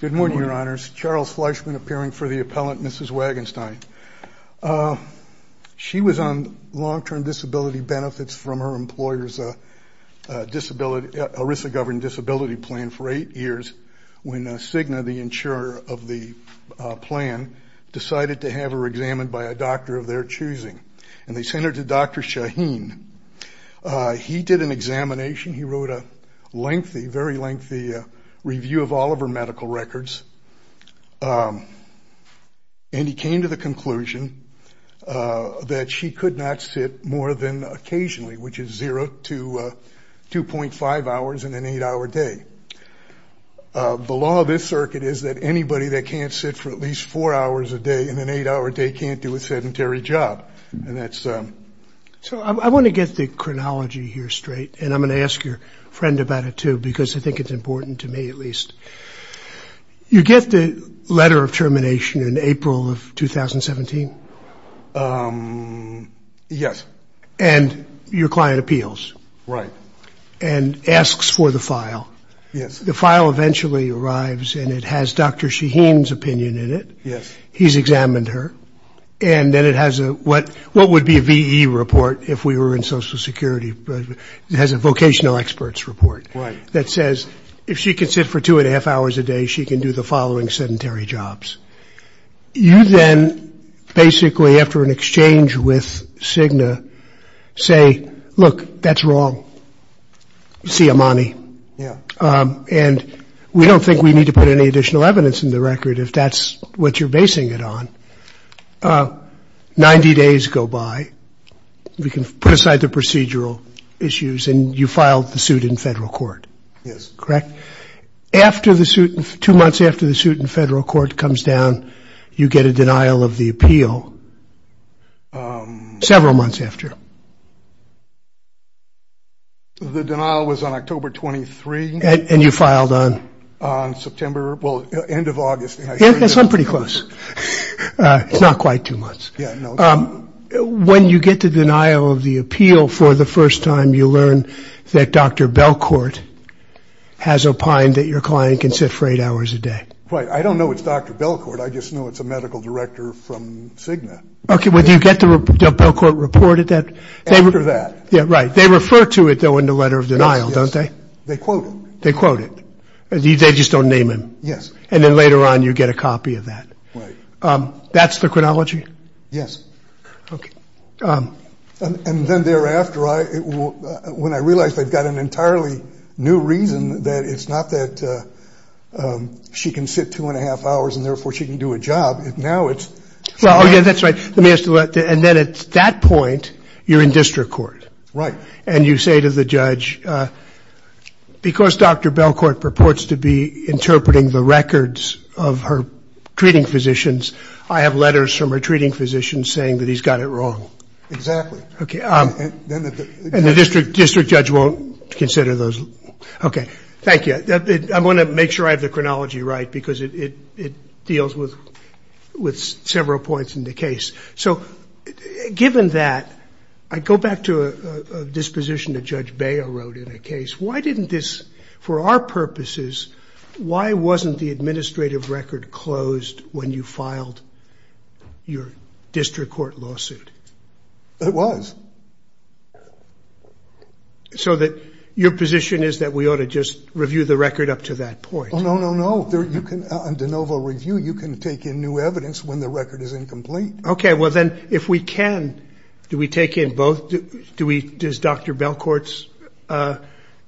Good morning, Your Honors. Charles Fleischman appearing for the appellant, Mrs. Wagenstein. She was on long-term disability benefits from her employer's ERISA-governed disability plan for eight years when Cigna, the insurer of the plan, decided to have her examined by a doctor of their choosing, and they sent her to Dr. Shaheen. He did an examination. He wrote a lengthy, very lengthy review of all of her medical records, and he came to the conclusion that she could not sit more than occasionally, which is 0 to 2.5 hours in an eight-hour day. The law of this circuit is that anybody that can't sit for at least four hours a day in an eight-hour day can't do a sedentary job, and that's... So I want to get the chronology here straight, and I'm going to ask your friend about it too, because I think it's important to me, at least. You get the letter of termination in April of 2017? Yes. And your client appeals. Right. And asks for the file. Yes. The file eventually arrives, and it has Dr. Shaheen's opinion in it. Yes. He's examined her, and then it has a... What would be a VE report if we were in Social Security? It has a vocational experts report that says if she can sit for 2.5 hours a day, she can do the following sedentary jobs. You then basically, after an exchange with Cigna, say, look, that's wrong. You see Amani. Yeah. And we don't think we need to put any additional evidence in the record if that's what you're basing it on. Ninety days go by. We can put aside the procedural issues, and you filed the suit in federal court. Yes. Correct? After the suit, two months after the suit in federal court comes down, you get a denial of the appeal. Several months after. The denial was on October 23. And you filed on? On September, well, end of August. Yes, I'm pretty close. It's not quite two months. When you get the denial of the appeal for the first time, you learn that Dr. Belcourt has opined that your client can sit for eight hours a day. Right. I don't know it's Dr. Belcourt. I just know it's a medical director from Cigna. Okay, well, do you get the Belcourt report of that? After that. Yeah, right. They refer to it, though, in the letter of denial, don't they? They quote it. They quote it. They just don't name him. Yes. And then later on, you get a copy of that. That's the chronology? Yes. Okay. And then thereafter, when I realized I'd got an entirely new reason that it's not that she can sit two and a half hours and therefore she can do a job. Now it's... Oh, yeah, that's right. Let me ask you that. And then at that point, you're in district court. Right. And you say to the judge, because Dr. Belcourt purports to be interpreting the records of her treating physicians, I have letters from her treating physicians saying that he's got it wrong. Exactly. Okay. And the district judge won't consider those. Okay. Thank you. I want to make sure I have the chronology right, because it deals with several points in the case. So given that, I go back to a disposition that Judge Baio wrote in a case. Why didn't this, for our purposes, why wasn't the administrative record closed when you filed your district court lawsuit? It was. So that your position is that we ought to just review the record up to that point? Oh, no, no, no. You can, on de novo review, you can take in new evidence when the record is incomplete. Okay. Well, then, if we can, do we take in both? Does Dr. Belcourt's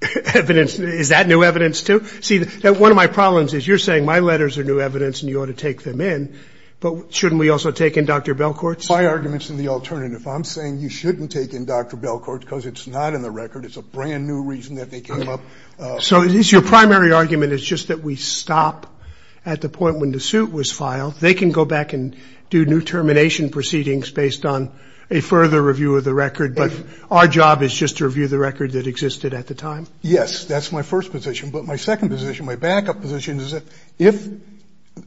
evidence, is that new evidence, too? See, one of my problems is you're saying my letters are new evidence and you ought to take them in, but shouldn't we also take in Dr. Belcourt's? My argument's in the alternative. I'm saying you shouldn't take in Dr. Belcourt because it's not in the record. It's a brand new reason that they came up. So it's your primary argument, it's just that we stop at the point when the suit was filed. They can go back and do new termination proceedings based on a further review of the record, but our job is just to review the record that existed at the time? Yes, that's my first position. But my second position, my backup position, is that if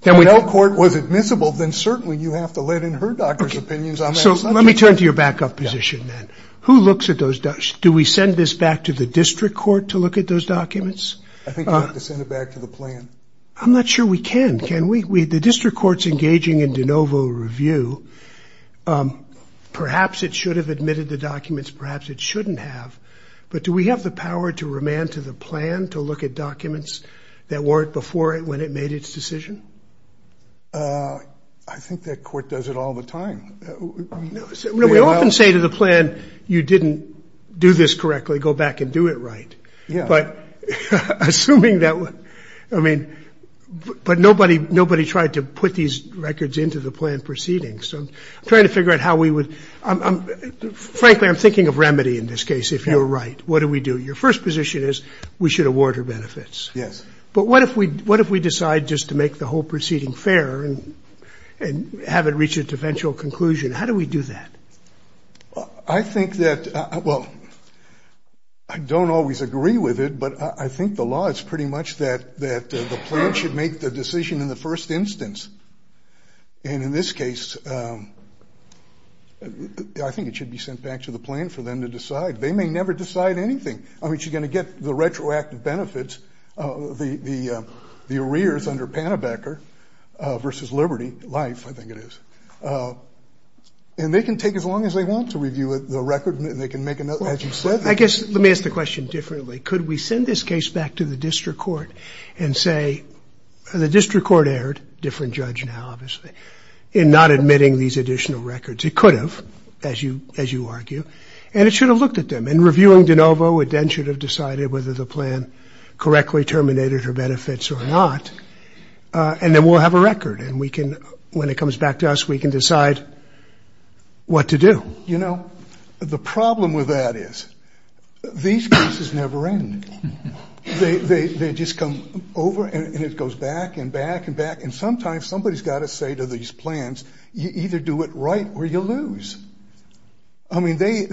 Belcourt was admissible, then certainly you have to let in her doctor's opinions on that subject. So let me turn to your backup position, then. Who looks at those documents? Do we send this back to the district court to look at those documents? I think you have to send it back to the plan. I'm not sure we can, can we? The district court's engaging in de novo review. Perhaps it should have admitted the documents, perhaps it shouldn't have. But do we have the power to remand to the plan to look at documents that weren't before when it made its decision? I think that court does it all the time. We often say to the plan, you didn't do this correctly, go back and do it right. But nobody tried to put these records into the plan proceedings. Frankly, I'm thinking of remedy in this case, if you're right. What do we do? Your first position is we should award her benefits. But what if we decide just to make the whole proceeding fair and have it reach its eventual conclusion? How do we do that? I think that, well, I don't always agree with it, but I think the law is pretty much that the plan should make the decision in the first instance. And in this case, I think it should be sent back to the plan for them to decide. They may never decide anything. I mean, she's going to get the retroactive benefits, the arrears under Pannebecker versus Liberty Life, I think it is. And they can take as long as they want to review the record and they can make a note, as you said. I guess let me ask the question differently. Could we send this case back to the district court and say the district court erred, different judge now, obviously, in not admitting these additional records? It could have, as you as you argue, and it should have looked at them. In reviewing DeNovo, it then should have decided whether the plan correctly terminated her benefits or not. And then we'll have a record and we can, when it comes back to us, we can decide what to do. You know, the problem with that is these cases never end. They just come over and it goes back and back and back. And sometimes somebody's got to say to these plans, you either do it right or you lose. I mean, they,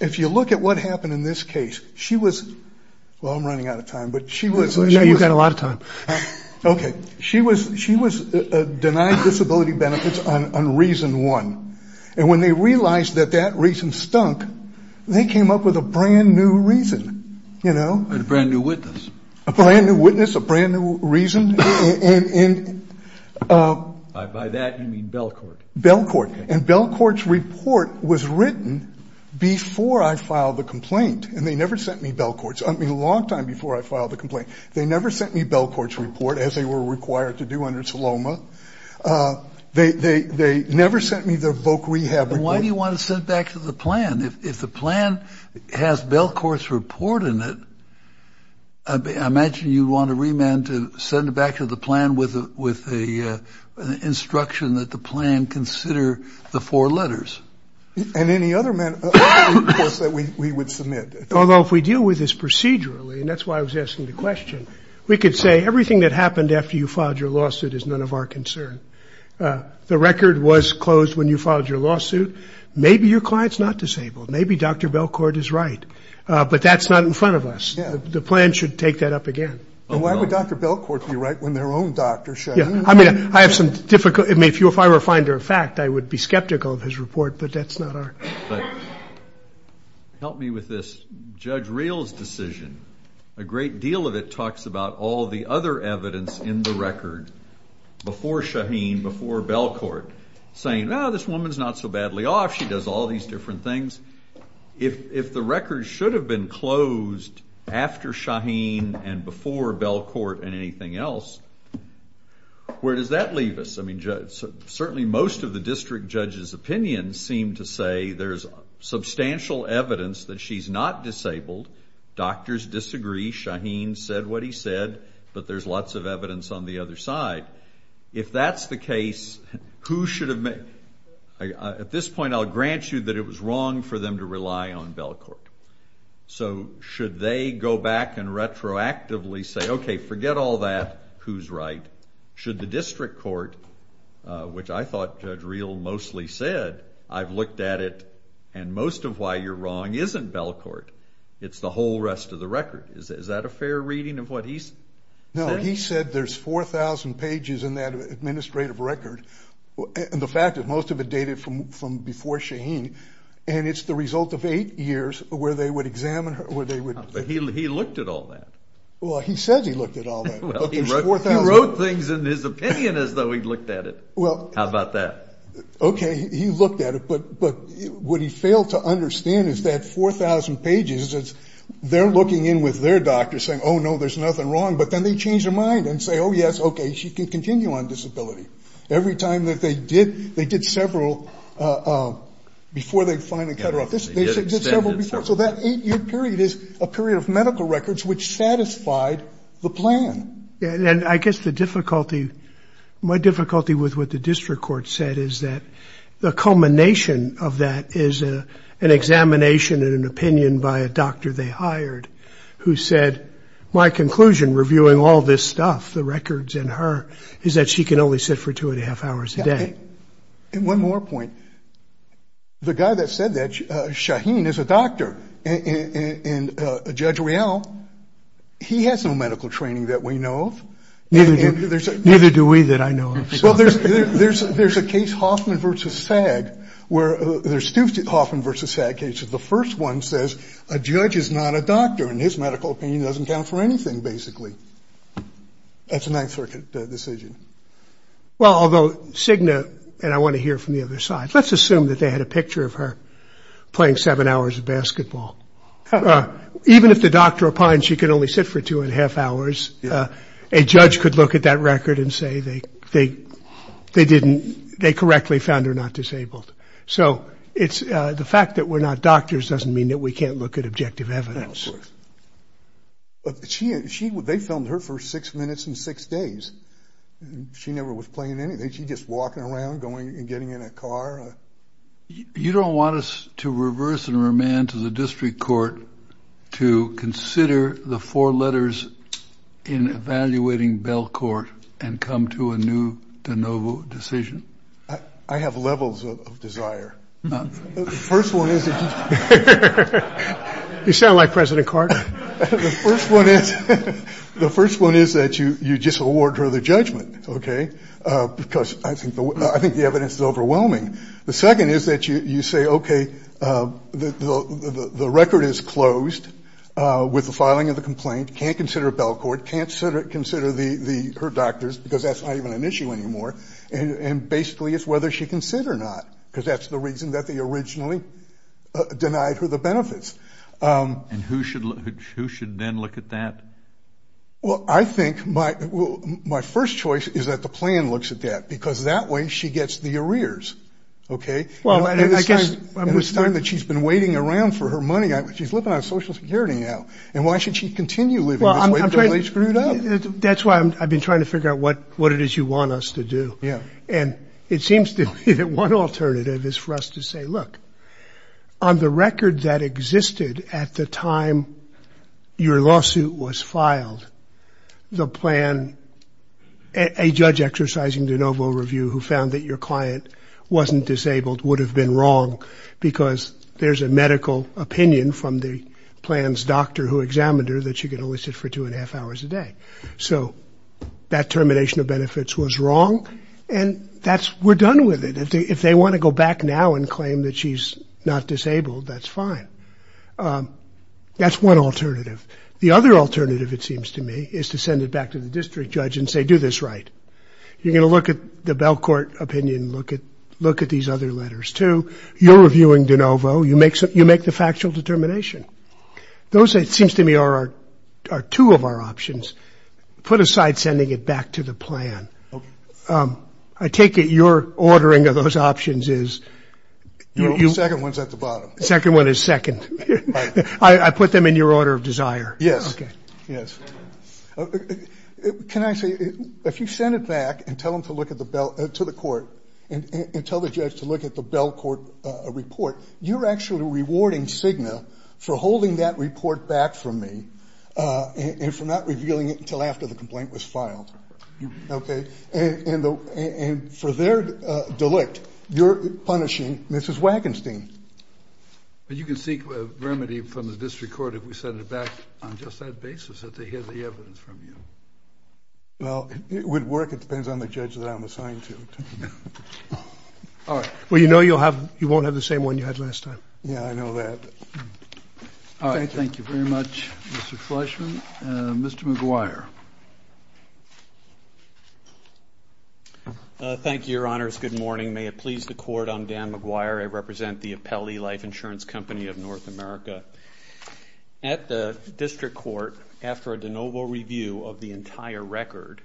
if you look at what happened in this case, she was, well, I'm running out of time, but she was, you know, you've got a lot of time. Okay. She was, she was denied disability benefits on reason one. And when they realized that that reason stunk, they came up with a brand new reason, you know, a brand new witness, a brand new witness, a brand new reason. And by that you mean Belcourt. Belcourt. And Belcourt's report was written before I filed the complaint. And they never sent me Belcourt's. I mean, a long time before I filed the complaint, they never sent me Belcourt's report as they were required to do under Saloma. They, they, they never sent me the Voc Rehab report. And why do you want to send it back to the plan? If the plan has Belcourt's report in it, I imagine you'd want to remand to send it back to the plan with a, with a instruction that the plan consider the four letters. And any other course that we would submit. Although if we deal with this procedurally, and that's why I was asking the question, we could say everything that happened after you filed your lawsuit is none of our concern. The record was closed when you filed your lawsuit. Maybe your client's not disabled. Maybe Dr. Belcourt is right. But that's not in front of us. The plan should take that up again. And why would Dr. Belcourt be right when their own doctor showed up? I mean, I have some difficult, I mean, if you, if I were a finder of fact, I would be skeptical of his report, but that's not our. But help me with this. Judge Reel's decision, a great deal of it talks about all the other evidence in the record before Shaheen, before Belcourt, saying, oh, this woman's not so badly off. She does all these different things. If the record should have been closed after Shaheen and before Belcourt and anything else, where does that leave us? I mean, certainly most of the district judge's opinions seem to say there's substantial evidence that she's not disabled. Doctors disagree. Shaheen said what he said, but there's lots of evidence on the other side. If that's the case, who should have made, at this point I'll grant you that it was wrong for them to rely on Belcourt. So should they go back and retroactively say, okay, forget all that, who's right? Should the district court, which I thought Judge Reel mostly said, I've looked at it, and most of why you're wrong isn't Belcourt. It's the whole rest of the record. Is that a fair reading of what he's saying? No, he said there's 4,000 pages in that administrative record. The fact that most of it dated from before Shaheen, and it's the result of eight years where they would examine her, where they would- But he looked at all that. Well, he said he looked at all that, but there's 4,000- He wrote things in his opinion as though he'd looked at it. How about that? Okay, he looked at it, but what he failed to understand is that 4,000 pages, they're looking in with their doctor saying, oh, no, there's nothing wrong, but then they change their mind and say, oh, yes, okay, she can continue on disability. Every time that they did, they did several before they finally cut her off. They did several before. So that eight-year period is a period of medical records which satisfied the plan. I guess the difficulty, my difficulty with what the district court said is that the culmination of that is an examination and an opinion by a doctor they hired who said, my conclusion reviewing all this stuff, the records and her, is that she can only sit for two and a half hours a day. One more point. The guy that said that, Shaheen, is a doctor, and Judge Riel, he has no medical training that we know of. Neither do we that I know of. Well, there's a case, Hoffman v. SAG, where there's two Hoffman v. SAG cases. The first one says a judge is not a doctor, and his medical opinion doesn't count for anything, basically. That's a Ninth Circuit decision. Well, although, Signa, and I want to hear from the other side, let's assume that they had a picture of her playing seven hours of basketball. Even if the doctor opines she can only sit for two and a half hours, a judge could look at that record and say they didn't, they correctly found her not disabled. So it's, the fact that we're not doctors doesn't mean that we can't look at objective evidence. Of course. But she, they filmed her for six minutes and six days. She never was playing anything. She's just walking around, going and getting in a car. You don't want us to reverse and remand to the district court to consider the four letters in evaluating Belcourt and come to a new De Novo decision? I have levels of desire. The first one is that you... You sound like President Carter. The first one is, the first one is that you just award her the judgment, okay? Because I think the evidence is overwhelming. The second is that you say, okay, the record is closed with the filing of the complaint, can't consider Belcourt, can't consider her doctors because that's not even an issue anymore. And basically it's whether she can sit or not because that's the reason that they originally denied her the benefits. And who should then look at that? Well, I think my first choice is that the plan looks at that because that way she gets the arrears, okay? Well, I guess... And it's time that she's been waiting around for her money. She's living on Social Security now and why should she continue living this way until they screw it up? That's why I've been trying to figure out what it is you want us to do. And it seems to me that one alternative is for us to say, look, on the record that existed at the time your lawsuit was filed, the plan, a judge exercising de novo review who found that your client wasn't disabled would have been wrong because there's a medical opinion from the plan's doctor who examined her that she could only sit for two and a half hours a day. So that termination of benefits was wrong and we're done with it. If they want to go back now and claim that she's not disabled, that's fine. That's one alternative. The other alternative, it seems to me, is to send it back to the district judge and say, do this right. You're going to look at the Belcourt opinion, look at these other letters too. You're reviewing de novo. You make the factual determination. Those, it seems to me, are two of our options. Put aside sending it back to the plan. I take it you're ordering of those options is, the second one is second. I put them in your order of desire. Yes. Yes. Can I say, if you send it back and tell them to look at the Belcourt report, you're actually rewarding Cigna for holding that report back from me and for not their delict, you're punishing Mrs. Wagenstein. But you can seek a remedy from the district court if we send it back on just that basis, that they hear the evidence from you. Well, it would work. It depends on the judge that I'm assigned to. All right. Well, you know you won't have the same one you had last time. Yeah, I know that. All right. Thank you very much, Mr. Fleishman. Mr. McGuire. Thank you, your honors. Good morning. May it please the court, I'm Dan McGuire. I represent the Apelli Life Insurance Company of North America. At the district court, after a de novo review of the entire record,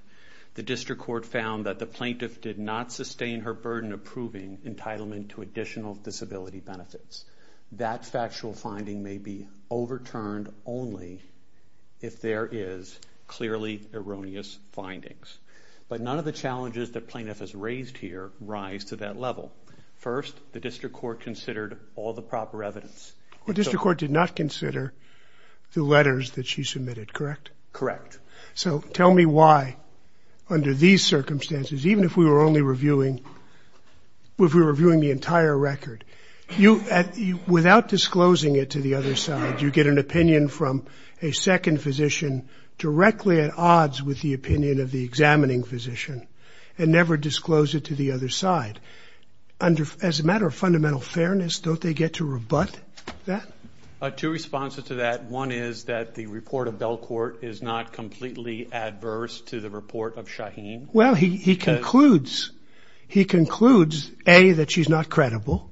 the district court found that the plaintiff did not sustain her burden approving entitlement to additional disability benefits. That factual finding may be overturned only if there is clearly erroneous findings. But none of the challenges that plaintiff has raised here rise to that level. First, the district court considered all the proper evidence. Well, district court did not consider the letters that she submitted, correct? Correct. So tell me why under these circumstances, even if we were only reviewing, if we were not disclosing it to the other side, you get an opinion from a second physician directly at odds with the opinion of the examining physician and never disclose it to the other side. As a matter of fundamental fairness, don't they get to rebut that? Two responses to that. One is that the report of Belcourt is not completely adverse to the report of Shaheen. Well, he concludes, he concludes, A, that she's not credible.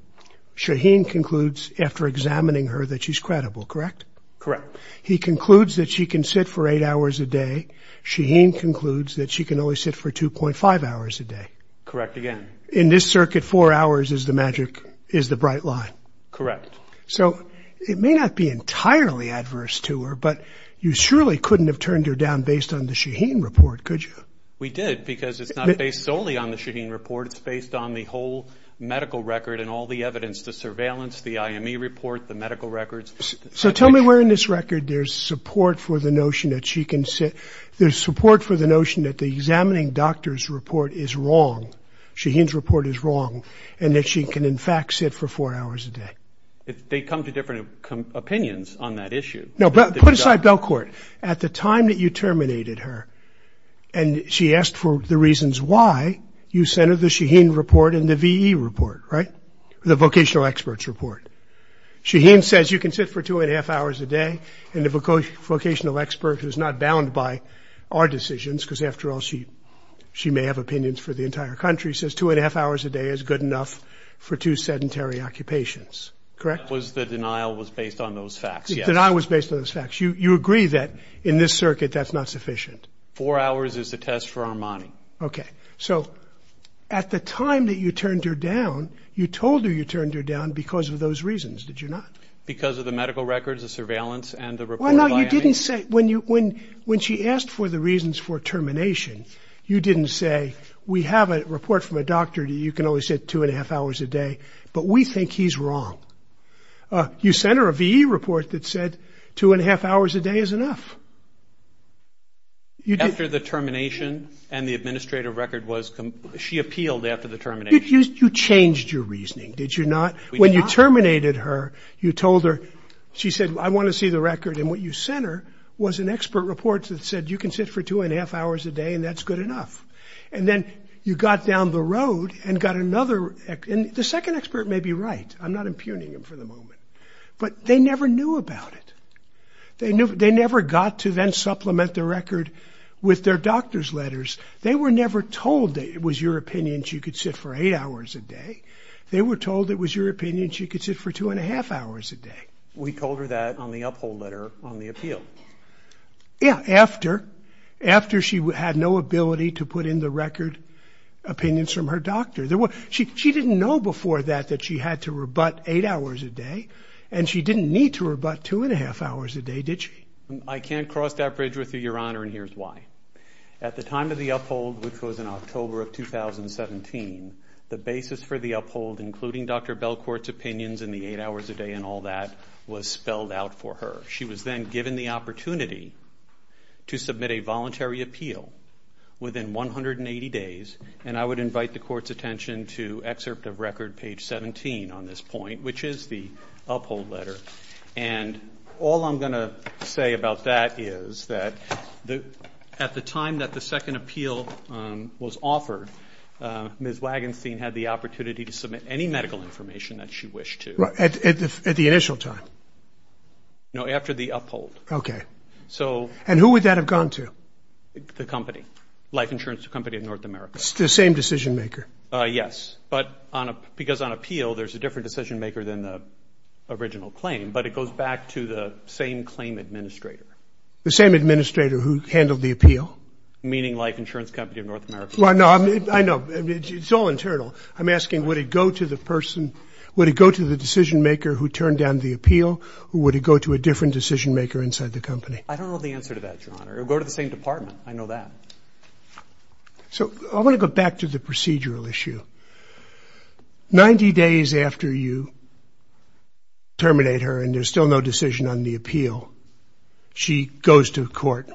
Shaheen concludes after examining her that she's credible, correct? Correct. He concludes that she can sit for eight hours a day. Shaheen concludes that she can only sit for 2.5 hours a day. Correct again. In this circuit, four hours is the magic, is the bright line. Correct. So it may not be entirely adverse to her, but you surely couldn't have turned her down based on the Shaheen report, could you? We did, because it's not based solely on the Shaheen report. It's based on the whole medical record and all the evidence, the surveillance, the IME report, the medical records. So tell me where in this record there's support for the notion that she can sit, there's support for the notion that the examining doctor's report is wrong, Shaheen's report is wrong, and that she can in fact sit for four hours a day. They come to different opinions on that issue. No, but put aside Belcourt. At the time that you terminated her, and she asked for the reasons why, you sent her the Shaheen report and the VE report, right? The vocational experts report. Shaheen says you can sit for 2.5 hours a day, and the vocational expert who's not bound by our decisions, because after all she may have opinions for the entire country, says 2.5 hours a day is good enough for two sedentary occupations. Correct? The denial was based on those facts, yes. The denial was based on those facts. You agree that in this circuit that's not sufficient? Four hours is the test for Armani. Okay. So at the time that you turned her down, you told her you turned her down because of those reasons, did you not? Because of the medical records, the surveillance, and the report of IME. Well, no, you didn't say, when she asked for the reasons for termination, you didn't say we have a report from a doctor, you can only sit 2.5 hours a day, but we think he's wrong. You sent her a VE report that said 2.5 hours a day is enough. After the termination, and the administrative record was, she appealed after the termination. You changed your reasoning, did you not? When you terminated her, you told her, she said I want to see the record, and what you sent her was an expert report that said you can sit for 2.5 hours a day and that's good enough. And then you got down the road and got another, the second expert may be right, I'm not impugning him for the moment, but they never knew about it. They never got to then supplement the record with their doctor's letters. They were never told that it was your opinion she could sit for 8 hours a day. They were told it was your opinion she could sit for 2.5 hours a day. We told her that on the uphold letter on the appeal. Yeah, after. After she had no ability to put in the record opinions from her doctor. She didn't know before that that she had to rebut 8 hours a day, and she didn't need to rebut 2.5 hours a day, did she? I can't cross that bridge with you, your honor, and here's why. At the time of the uphold, which was in October of 2017, the basis for the uphold, including Dr. Belcourt's opinions in the 8 hours a day and all that, was spelled out for her. She was then given the opportunity to submit a voluntary appeal within 180 days, and I would invite the court's attention to excerpt of record page 17 on this point, which is the uphold letter, and all I'm going to say about that is that at the time that the second appeal was offered, Ms. Wagenstein had the opportunity to submit any medical information that she wished to. At the initial time? No, after the uphold. Okay. And who would that have gone to? The company. Life Insurance Company of North America. The same decision maker? Yes, but because on appeal, there's a different decision maker than the original claim, but it goes back to the same claim administrator. The same administrator who handled the appeal? Meaning Life Insurance Company of North America. Well, no, I know. It's all internal. I'm asking, would it go to the person, would it go to the decision maker who turned down the appeal, or would it go to a different decision maker inside the company? I don't know the answer to that, your honor. It would go to the same department. I know that. So, I want to go back to the procedural issue. Ninety days after you terminate her and there's still no decision on the appeal, she goes to court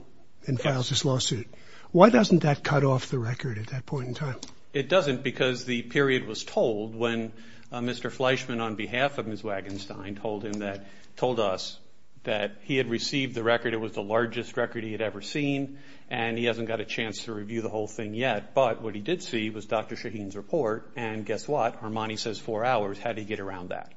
and files this lawsuit. Why doesn't that cut off the record at that point in time? It doesn't because the period was told when Mr. Fleischman, on behalf of Ms. Wagenstein, told us that he had received the record. It was the largest record he had ever seen, and he hasn't got a chance to review the whole thing yet, but what he did see was Dr. Shaheen's report, and guess what? Armani says four hours. How did he get around that?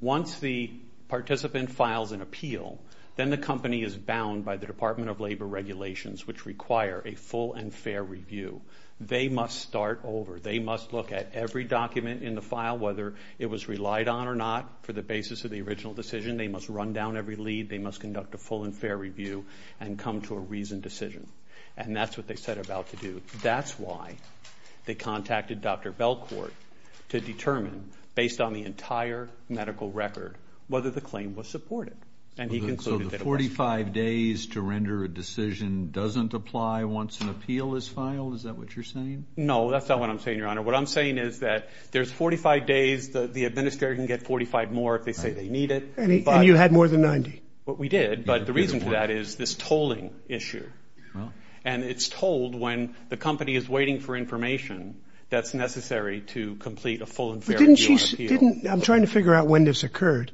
Once the participant files an appeal, then the company is bound by the Department of Labor regulations, which require a full and fair review. They must start over. They must look at every document in the file, whether it was relied on or not, for the basis of the original decision. They must run down every lead. They must conduct a full and fair review and come to a reasoned decision, and that's what they set about to do. That's why they contacted Dr. Belcourt to determine, based on the entire medical record, whether the claim was supported, and he concluded that it was. So the 45 days to render a decision doesn't apply once an appeal is filed? Is that what you're saying? No, that's not what I'm saying, Your Honor. What I'm saying is that there's 45 days. The administrator can get 45 more if they say they need it. And you had more than 90? We did, but the reason for that is this tolling issue. And it's tolled when the company is waiting for information that's necessary to complete a full and fair review of the appeal. I'm trying to figure out when this occurred.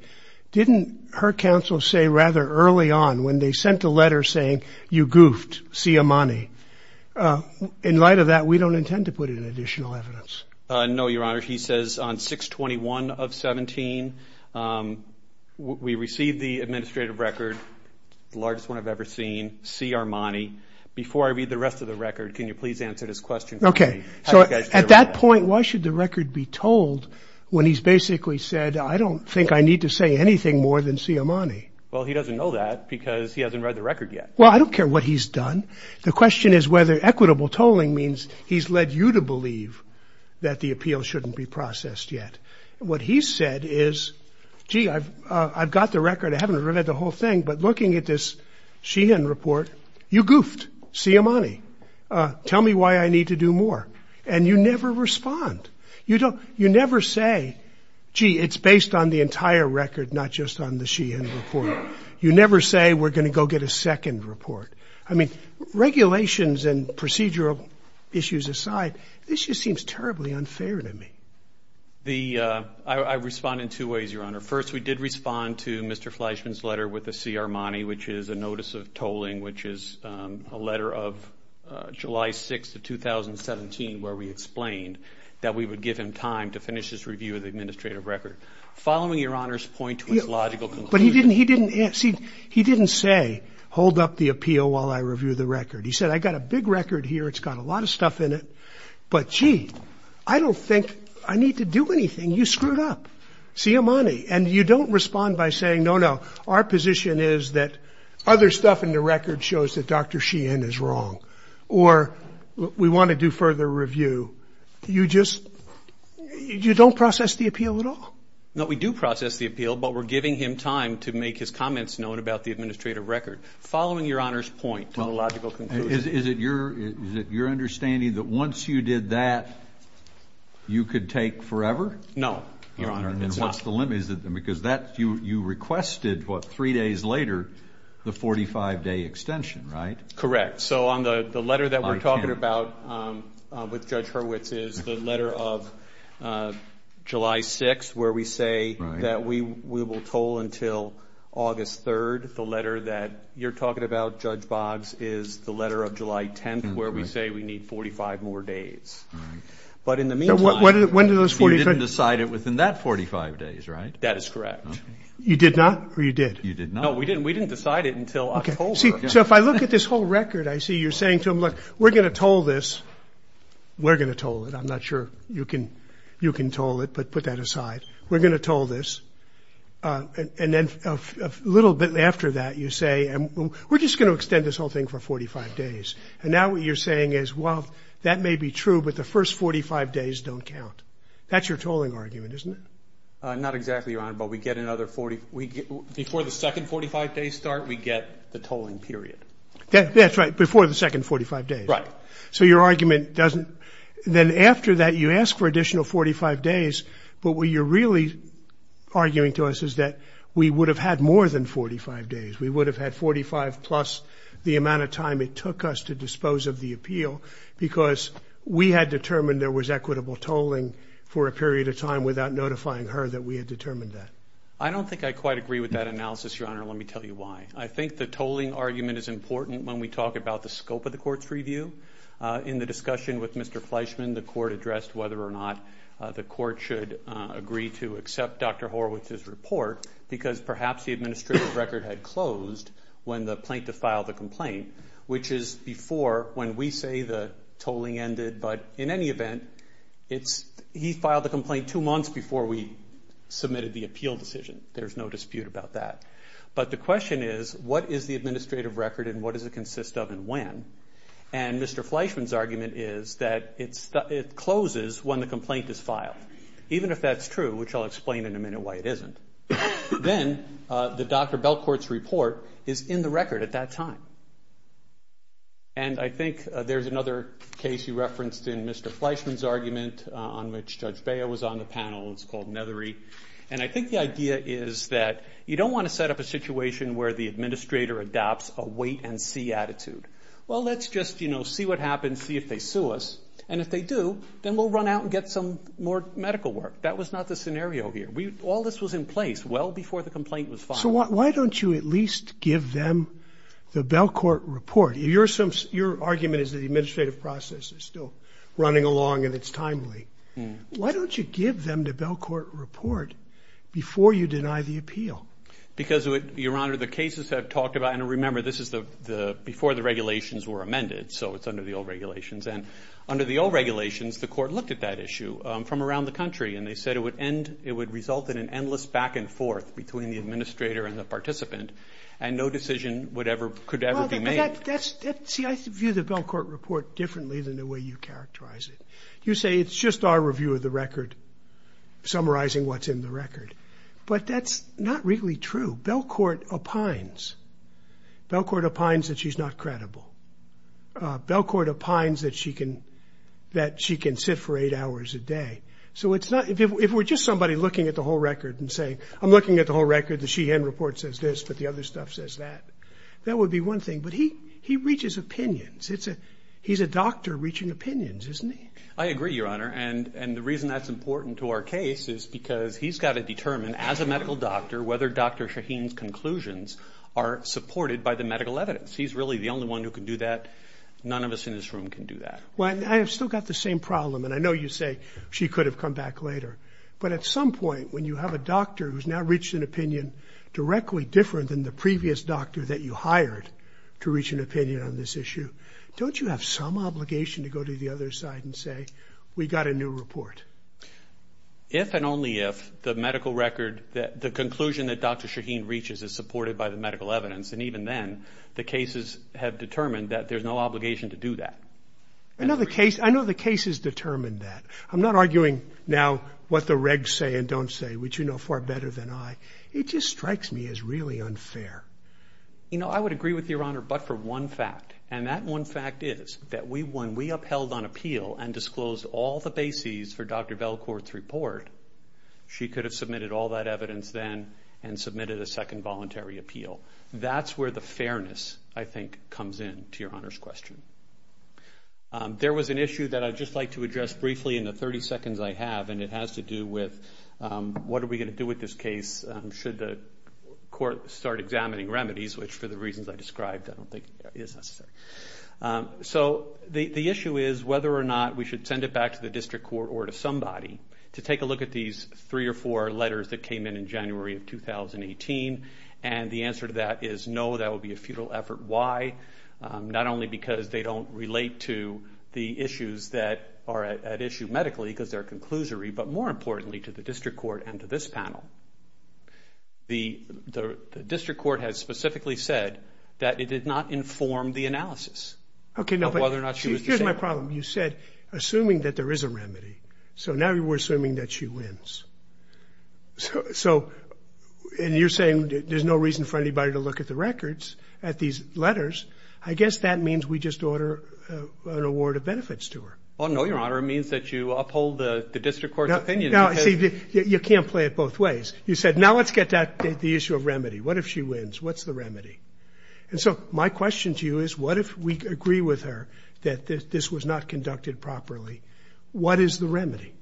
Didn't her counsel say rather early on, when they sent a letter saying, you goofed, see you money? In light of that, we don't intend to put in additional evidence. No, Your Honor. He says on 6-21-17, we received the administrative record, the largest one I've ever seen, see our money. Before I read the rest of the record, can you please answer this question for me? At that point, why should the record be tolled when he's basically said, I don't think I need to say anything more than see our money? Well, he doesn't know that because he hasn't read the record yet. Well, I don't care what he's done. The question is whether equitable tolling means he's led you to believe that the appeal shouldn't be processed yet. What he said is, gee, I've got the record. I haven't read the whole thing. But looking at this Sheehan report, you goofed, see our money. Tell me why I need to do more. And you never respond. You never say, gee, it's based on the entire record, not just on the Sheehan report. You never say, we're going to go get a second report. I mean, regulations and procedural issues aside, this just seems terribly unfair to me. I respond in two ways, Your Honor. First, we did respond to Mr. Fleischman's letter with the C.R. Money, which is a notice of tolling, which is a letter of July 6, 2017, where we explained that we would give him time to finish his review of the administrative record. Following Your Honor's point to his logical conclusion. He didn't say, hold up the appeal while I review the record. He said, I've got a big record here. It's got a lot of stuff in it. But, gee, I don't think I need to do anything. You screwed up, C.R. Money. And you don't respond by saying, no, no, our position is that other stuff in the record shows that Dr. Sheehan is wrong, or we want to do further review. You just, you don't process the appeal at all? No, we do process the appeal, but we're giving him time to make his comments known about the administrative record. Following Your Honor's point to the logical conclusion. Is it your understanding that once you did that, you could take forever? No, Your Honor. And what's the limit? Because that, you requested, what, three days later, the 45-day extension, right? Correct. So on the letter that we're talking about with Judge Hurwitz is the letter of July 6th, where we say that we will toll until August 3rd. The letter that you're talking about, Judge Boggs, is the letter of July 10th, where we say we need 45 more days. But in the meantime... When do those 45... You didn't decide it within that 45 days, right? That is correct. You did not, or you did? You did not. No, we didn't. We didn't decide it until October. So if I look at this whole record, I see you're saying to him, look, we're going to toll this. We're going to toll it. I'm not sure you can toll it, but put that aside. We're going to toll this. And then a little bit after that, you say, we're just going to extend this whole thing for 45 days. And now what you're saying is, well, that may be true, but the first 45 days don't count. That's your tolling argument, isn't it? Not exactly, Your Honor, but we get another 40... Before the second 45 days start, we get the tolling period. That's right. Before the second 45 days. Right. So your argument doesn't... Then after that, you ask for additional 45 days, but what you're really arguing to us is that we would have had more than 45 days. We would have had 45 plus the amount of time it took us to dispose of the appeal because we had determined there was equitable tolling for a period of time without notifying her that we had determined that. I don't think I quite agree with that analysis, Your Honor. Let me tell you why. I think the tolling argument is important when we talk about the scope of the court's review. In the discussion with Mr. Fleischman, the court addressed whether or not the court should agree to accept Dr. Horwitz's report because perhaps the administrative record had closed when the plaintiff filed the complaint, which is before when we say the tolling ended. But in any event, he filed the complaint two months before we submitted the appeal decision. There's no dispute about that. But the question is, what is the administrative record and what does it consist of and when? And Mr. Fleischman's argument is that it closes when the complaint is filed. Even if that's true, which I'll explain in a minute why it isn't, then the Dr. Belcourt's report is in the record at that time. And I think there's another case you referenced in Mr. Fleischman's argument on which Judge is that you don't want to set up a situation where the administrator adopts a wait and see attitude. Well, let's just see what happens, see if they sue us. And if they do, then we'll run out and get some more medical work. That was not the scenario here. All this was in place well before the complaint was filed. So why don't you at least give them the Belcourt report? Your argument is that the administrative process is still running along and it's timely. Why don't you give them the Belcourt report before you deny the appeal? Because Your Honor, the cases I've talked about, and remember this is before the regulations were amended, so it's under the old regulations. And under the old regulations, the court looked at that issue from around the country and they said it would end, it would result in an endless back and forth between the administrator and the participant and no decision would ever, could ever be made. See, I view the Belcourt report differently than the way you characterize it. You say it's just our review of the record, summarizing what's in the record. But that's not really true. Belcourt opines, Belcourt opines that she's not credible. Belcourt opines that she can, that she can sit for eight hours a day. So it's not, if we're just somebody looking at the whole record and saying, I'm looking at the whole record, the Sheehan report says this, but the other stuff says that, that would be one thing. But he, he reaches opinions. It's a, he's a doctor reaching opinions, isn't he? I agree, Your Honor. And, and the reason that's important to our case is because he's got to determine as a medical doctor, whether Dr. Sheehan's conclusions are supported by the medical evidence. He's really the only one who can do that. None of us in this room can do that. Well, I have still got the same problem. And I know you say she could have come back later, but at some point when you have a doctor who's now reached an opinion directly different than the previous doctor that you hired to reach an opinion on this issue, don't you have some obligation to go to the other side and say, we got a new report? If and only if the medical record that, the conclusion that Dr. Sheehan reaches is supported by the medical evidence. And even then, the cases have determined that there's no obligation to do that. I know the case, I know the case has determined that. I'm not arguing now what the regs say and don't say, which you know far better than I. It just strikes me as really unfair. You know, I would agree with Your Honor, but for one fact. And that one fact is that when we upheld on appeal and disclosed all the bases for Dr. Belcourt's report, she could have submitted all that evidence then and submitted a second voluntary appeal. That's where the fairness, I think, comes in to Your Honor's question. There was an issue that I'd just like to address briefly in the 30 seconds I have, and it has to do with what are we going to do with this case should the court start examining remedies, which for the reasons I described, I don't think is necessary. So the issue is whether or not we should send it back to the district court or to somebody to take a look at these three or four letters that came in in January of 2018. And the answer to that is no, that would be a futile effort. Why? Not only because they don't relate to the issues that are at issue medically, because they're a conclusory, but more importantly to the district court and to this panel. The district court has specifically said that it did not inform the analysis of whether or not she was disabled. Okay, but here's my problem. You said, assuming that there is a remedy. So now we're assuming that she wins. So, and you're saying there's no reason for anybody to look at the records, at these letters. I guess that means we just order an award of benefits to her. Oh, no, Your Honor. It means that you uphold the district court's opinion. No, see, you can't play it both ways. You said, now let's get to the issue of remedy. What if she wins? What's the remedy? And so my question to you is, what if we agree with her that this was not conducted properly? What is the remedy?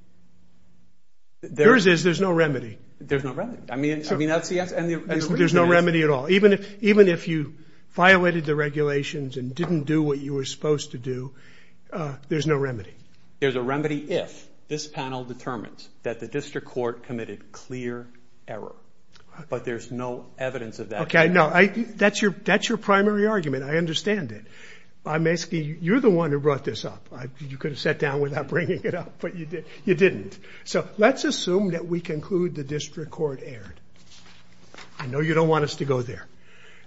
Yours is there's no remedy. There's no remedy. I mean, that's the answer. There's no remedy at all. Even if you violated the regulations and didn't do what you were supposed to do, there's no remedy. There's a remedy if this panel determines that the district court committed clear error, but there's no evidence of that error. Okay, no, that's your primary argument. I understand it. I'm asking, you're the one who brought this up. You could have sat down without bringing it up, but you didn't. So, let's assume that we conclude the district court erred. I know you don't want us to go there.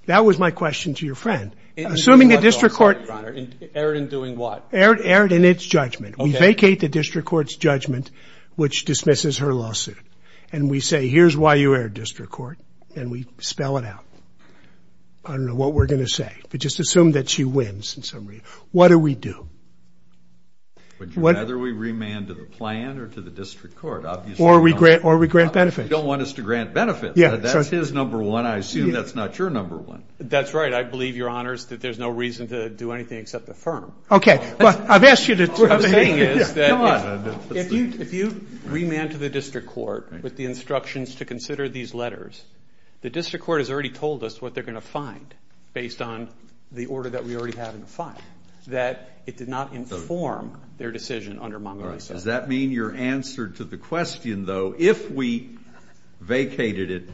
That was my question to your friend. Assuming the district court erred in doing what? Erred in its judgment. We vacate the district court's judgment, which dismisses her lawsuit, and we say, here's why you erred, district court, and we spell it out. I don't know what we're going to say, but just assume that she wins in some way. What do we do? Would you rather we remand to the plan or to the district court? Or we grant benefits. You don't want us to grant benefits. That's his number one. I assume that's not your number one. That's right. I believe, your honors, that there's no reason to do anything except affirm. Okay. What I'm saying is that if you remand to the district court with the instructions to consider these letters, the district court has already told us what they're going to find based on the order that we already have in the file, that it did not inform their decision under Montgomery's sentence. Does that mean you're answered to the question, though, if we vacated it,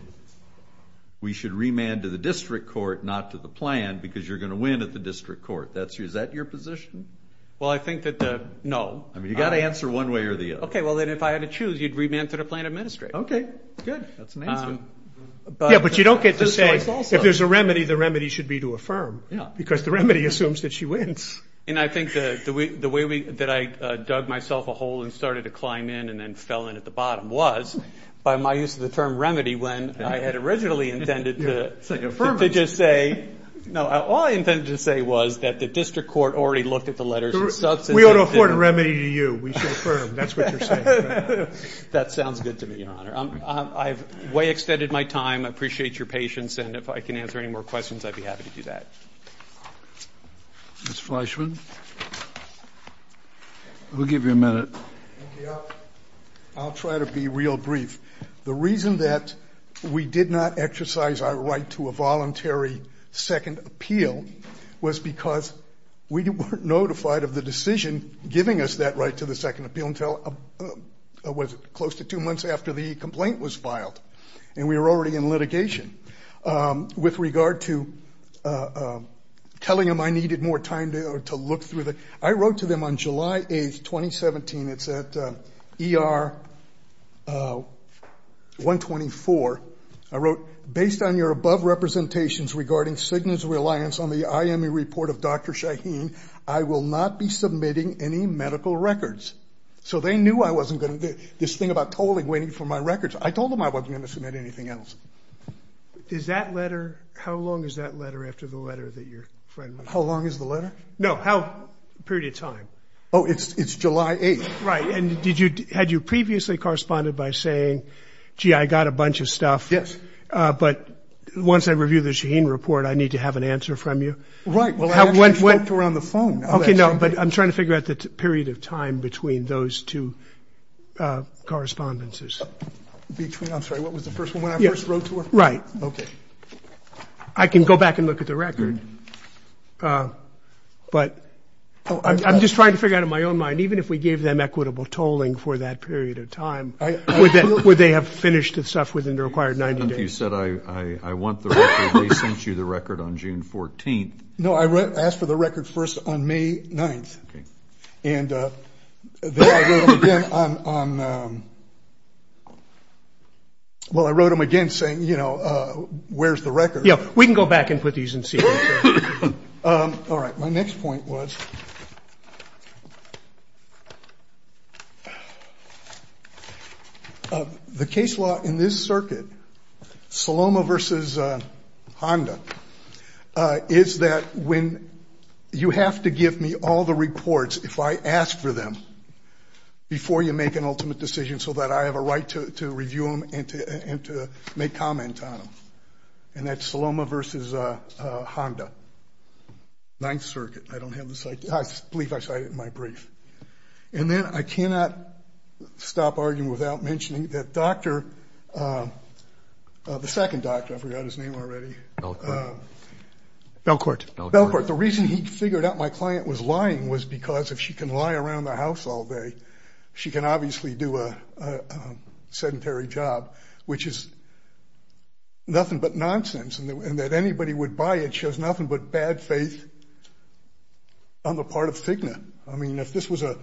we should remand to the district court, not to the plan, because you're going to win at the district court. Is that your position? Well, I think that, no. I mean, you've got to answer one way or the other. Okay. Well, then, if I had to choose, you'd remand to the plan administrator. Okay. Good. That's an answer. Yeah, but you don't get to say, if there's a remedy, the remedy should be to affirm. Yeah. Because the remedy assumes that she wins. And I think the way that I dug myself a hole and started to climb in and then fell in at the bottom was, by my use of the term remedy, when I had originally intended to just say, no. All I intended to say was that the district court already looked at the letters and substituted them. We ought to afford a remedy to you. We should affirm. That's what you're saying. That sounds good to me, Your Honor. I've way extended my time. I appreciate your patience. And if I can answer any more questions, I'd be happy to do that. Mr. Fleischman, we'll give you a minute. Thank you. I'll try to be real brief. The reason that we did not exercise our right to a voluntary second appeal was because we weren't notified of the decision giving us that right to the second appeal until close to two months after the complaint was filed. And we were already in litigation. With regard to telling them I needed more time to look through the, I wrote to them on July 8, 2017. It's at ER 124. I wrote, based on your above representations regarding Cigna's reliance on the IME report of Dr. Shaheen, I will not be submitting any medical records. So they knew I wasn't going to do this thing about tolling waiting for my records. I told them I wasn't going to submit anything else. Is that letter, how long is that letter after the letter that your friend? How long is the letter? No, how period of time? Oh, it's July 8th. Right. And did you, had you previously corresponded by saying, gee, I got a bunch of stuff. Yes. But once I review the Shaheen report, I need to have an answer from you. Right. Well, I actually talked to her on the phone. Okay, no, but I'm trying to figure out the period of time between those two correspondences. Between, I'm sorry, what was the first one when I first wrote to her? Right. Okay. I can go back and look at the record, but I'm just trying to figure out in my own mind, even if we gave them equitable tolling for that period of time, would they have finished the stuff within the required 90 days? You said, I want the record, they sent you the record on June 14th. No, I asked for the record first on May 9th. Okay. And then I wrote them again on, well, I wrote them again saying, you know, where's the record? Yeah, we can go back and put these in sequence. All right. My next point was, the case law in this circuit, Saloma versus Honda, is that when you have to give me all the reports, if I ask for them, before you make an ultimate decision so that I have a right to review them and to make comment on them. And that's Saloma versus Honda, Ninth Circuit. I don't have the site. I believe I cited it in my brief. And then I cannot stop arguing without mentioning that Dr., the second doctor, I forgot his name already. Belcourt. Belcourt. Belcourt. The reason he figured out my client was lying was because if she can lie around the house all day, she can obviously do a sedentary job, which is nothing but nonsense. And that anybody would buy it shows nothing but bad faith on the part of FIGNA. I mean, if this was a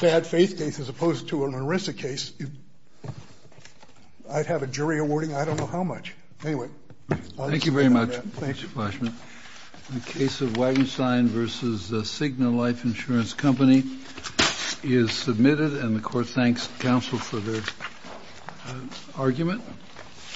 bad faith case as opposed to an ERISA case, I'd have a jury awarding I don't know how much. Anyway. Thank you very much. Thanks. Thank you, Mr. Flaschman. The case of Wagenstein versus the FIGNA life insurance company is submitted and the court thanks counsel for their argument.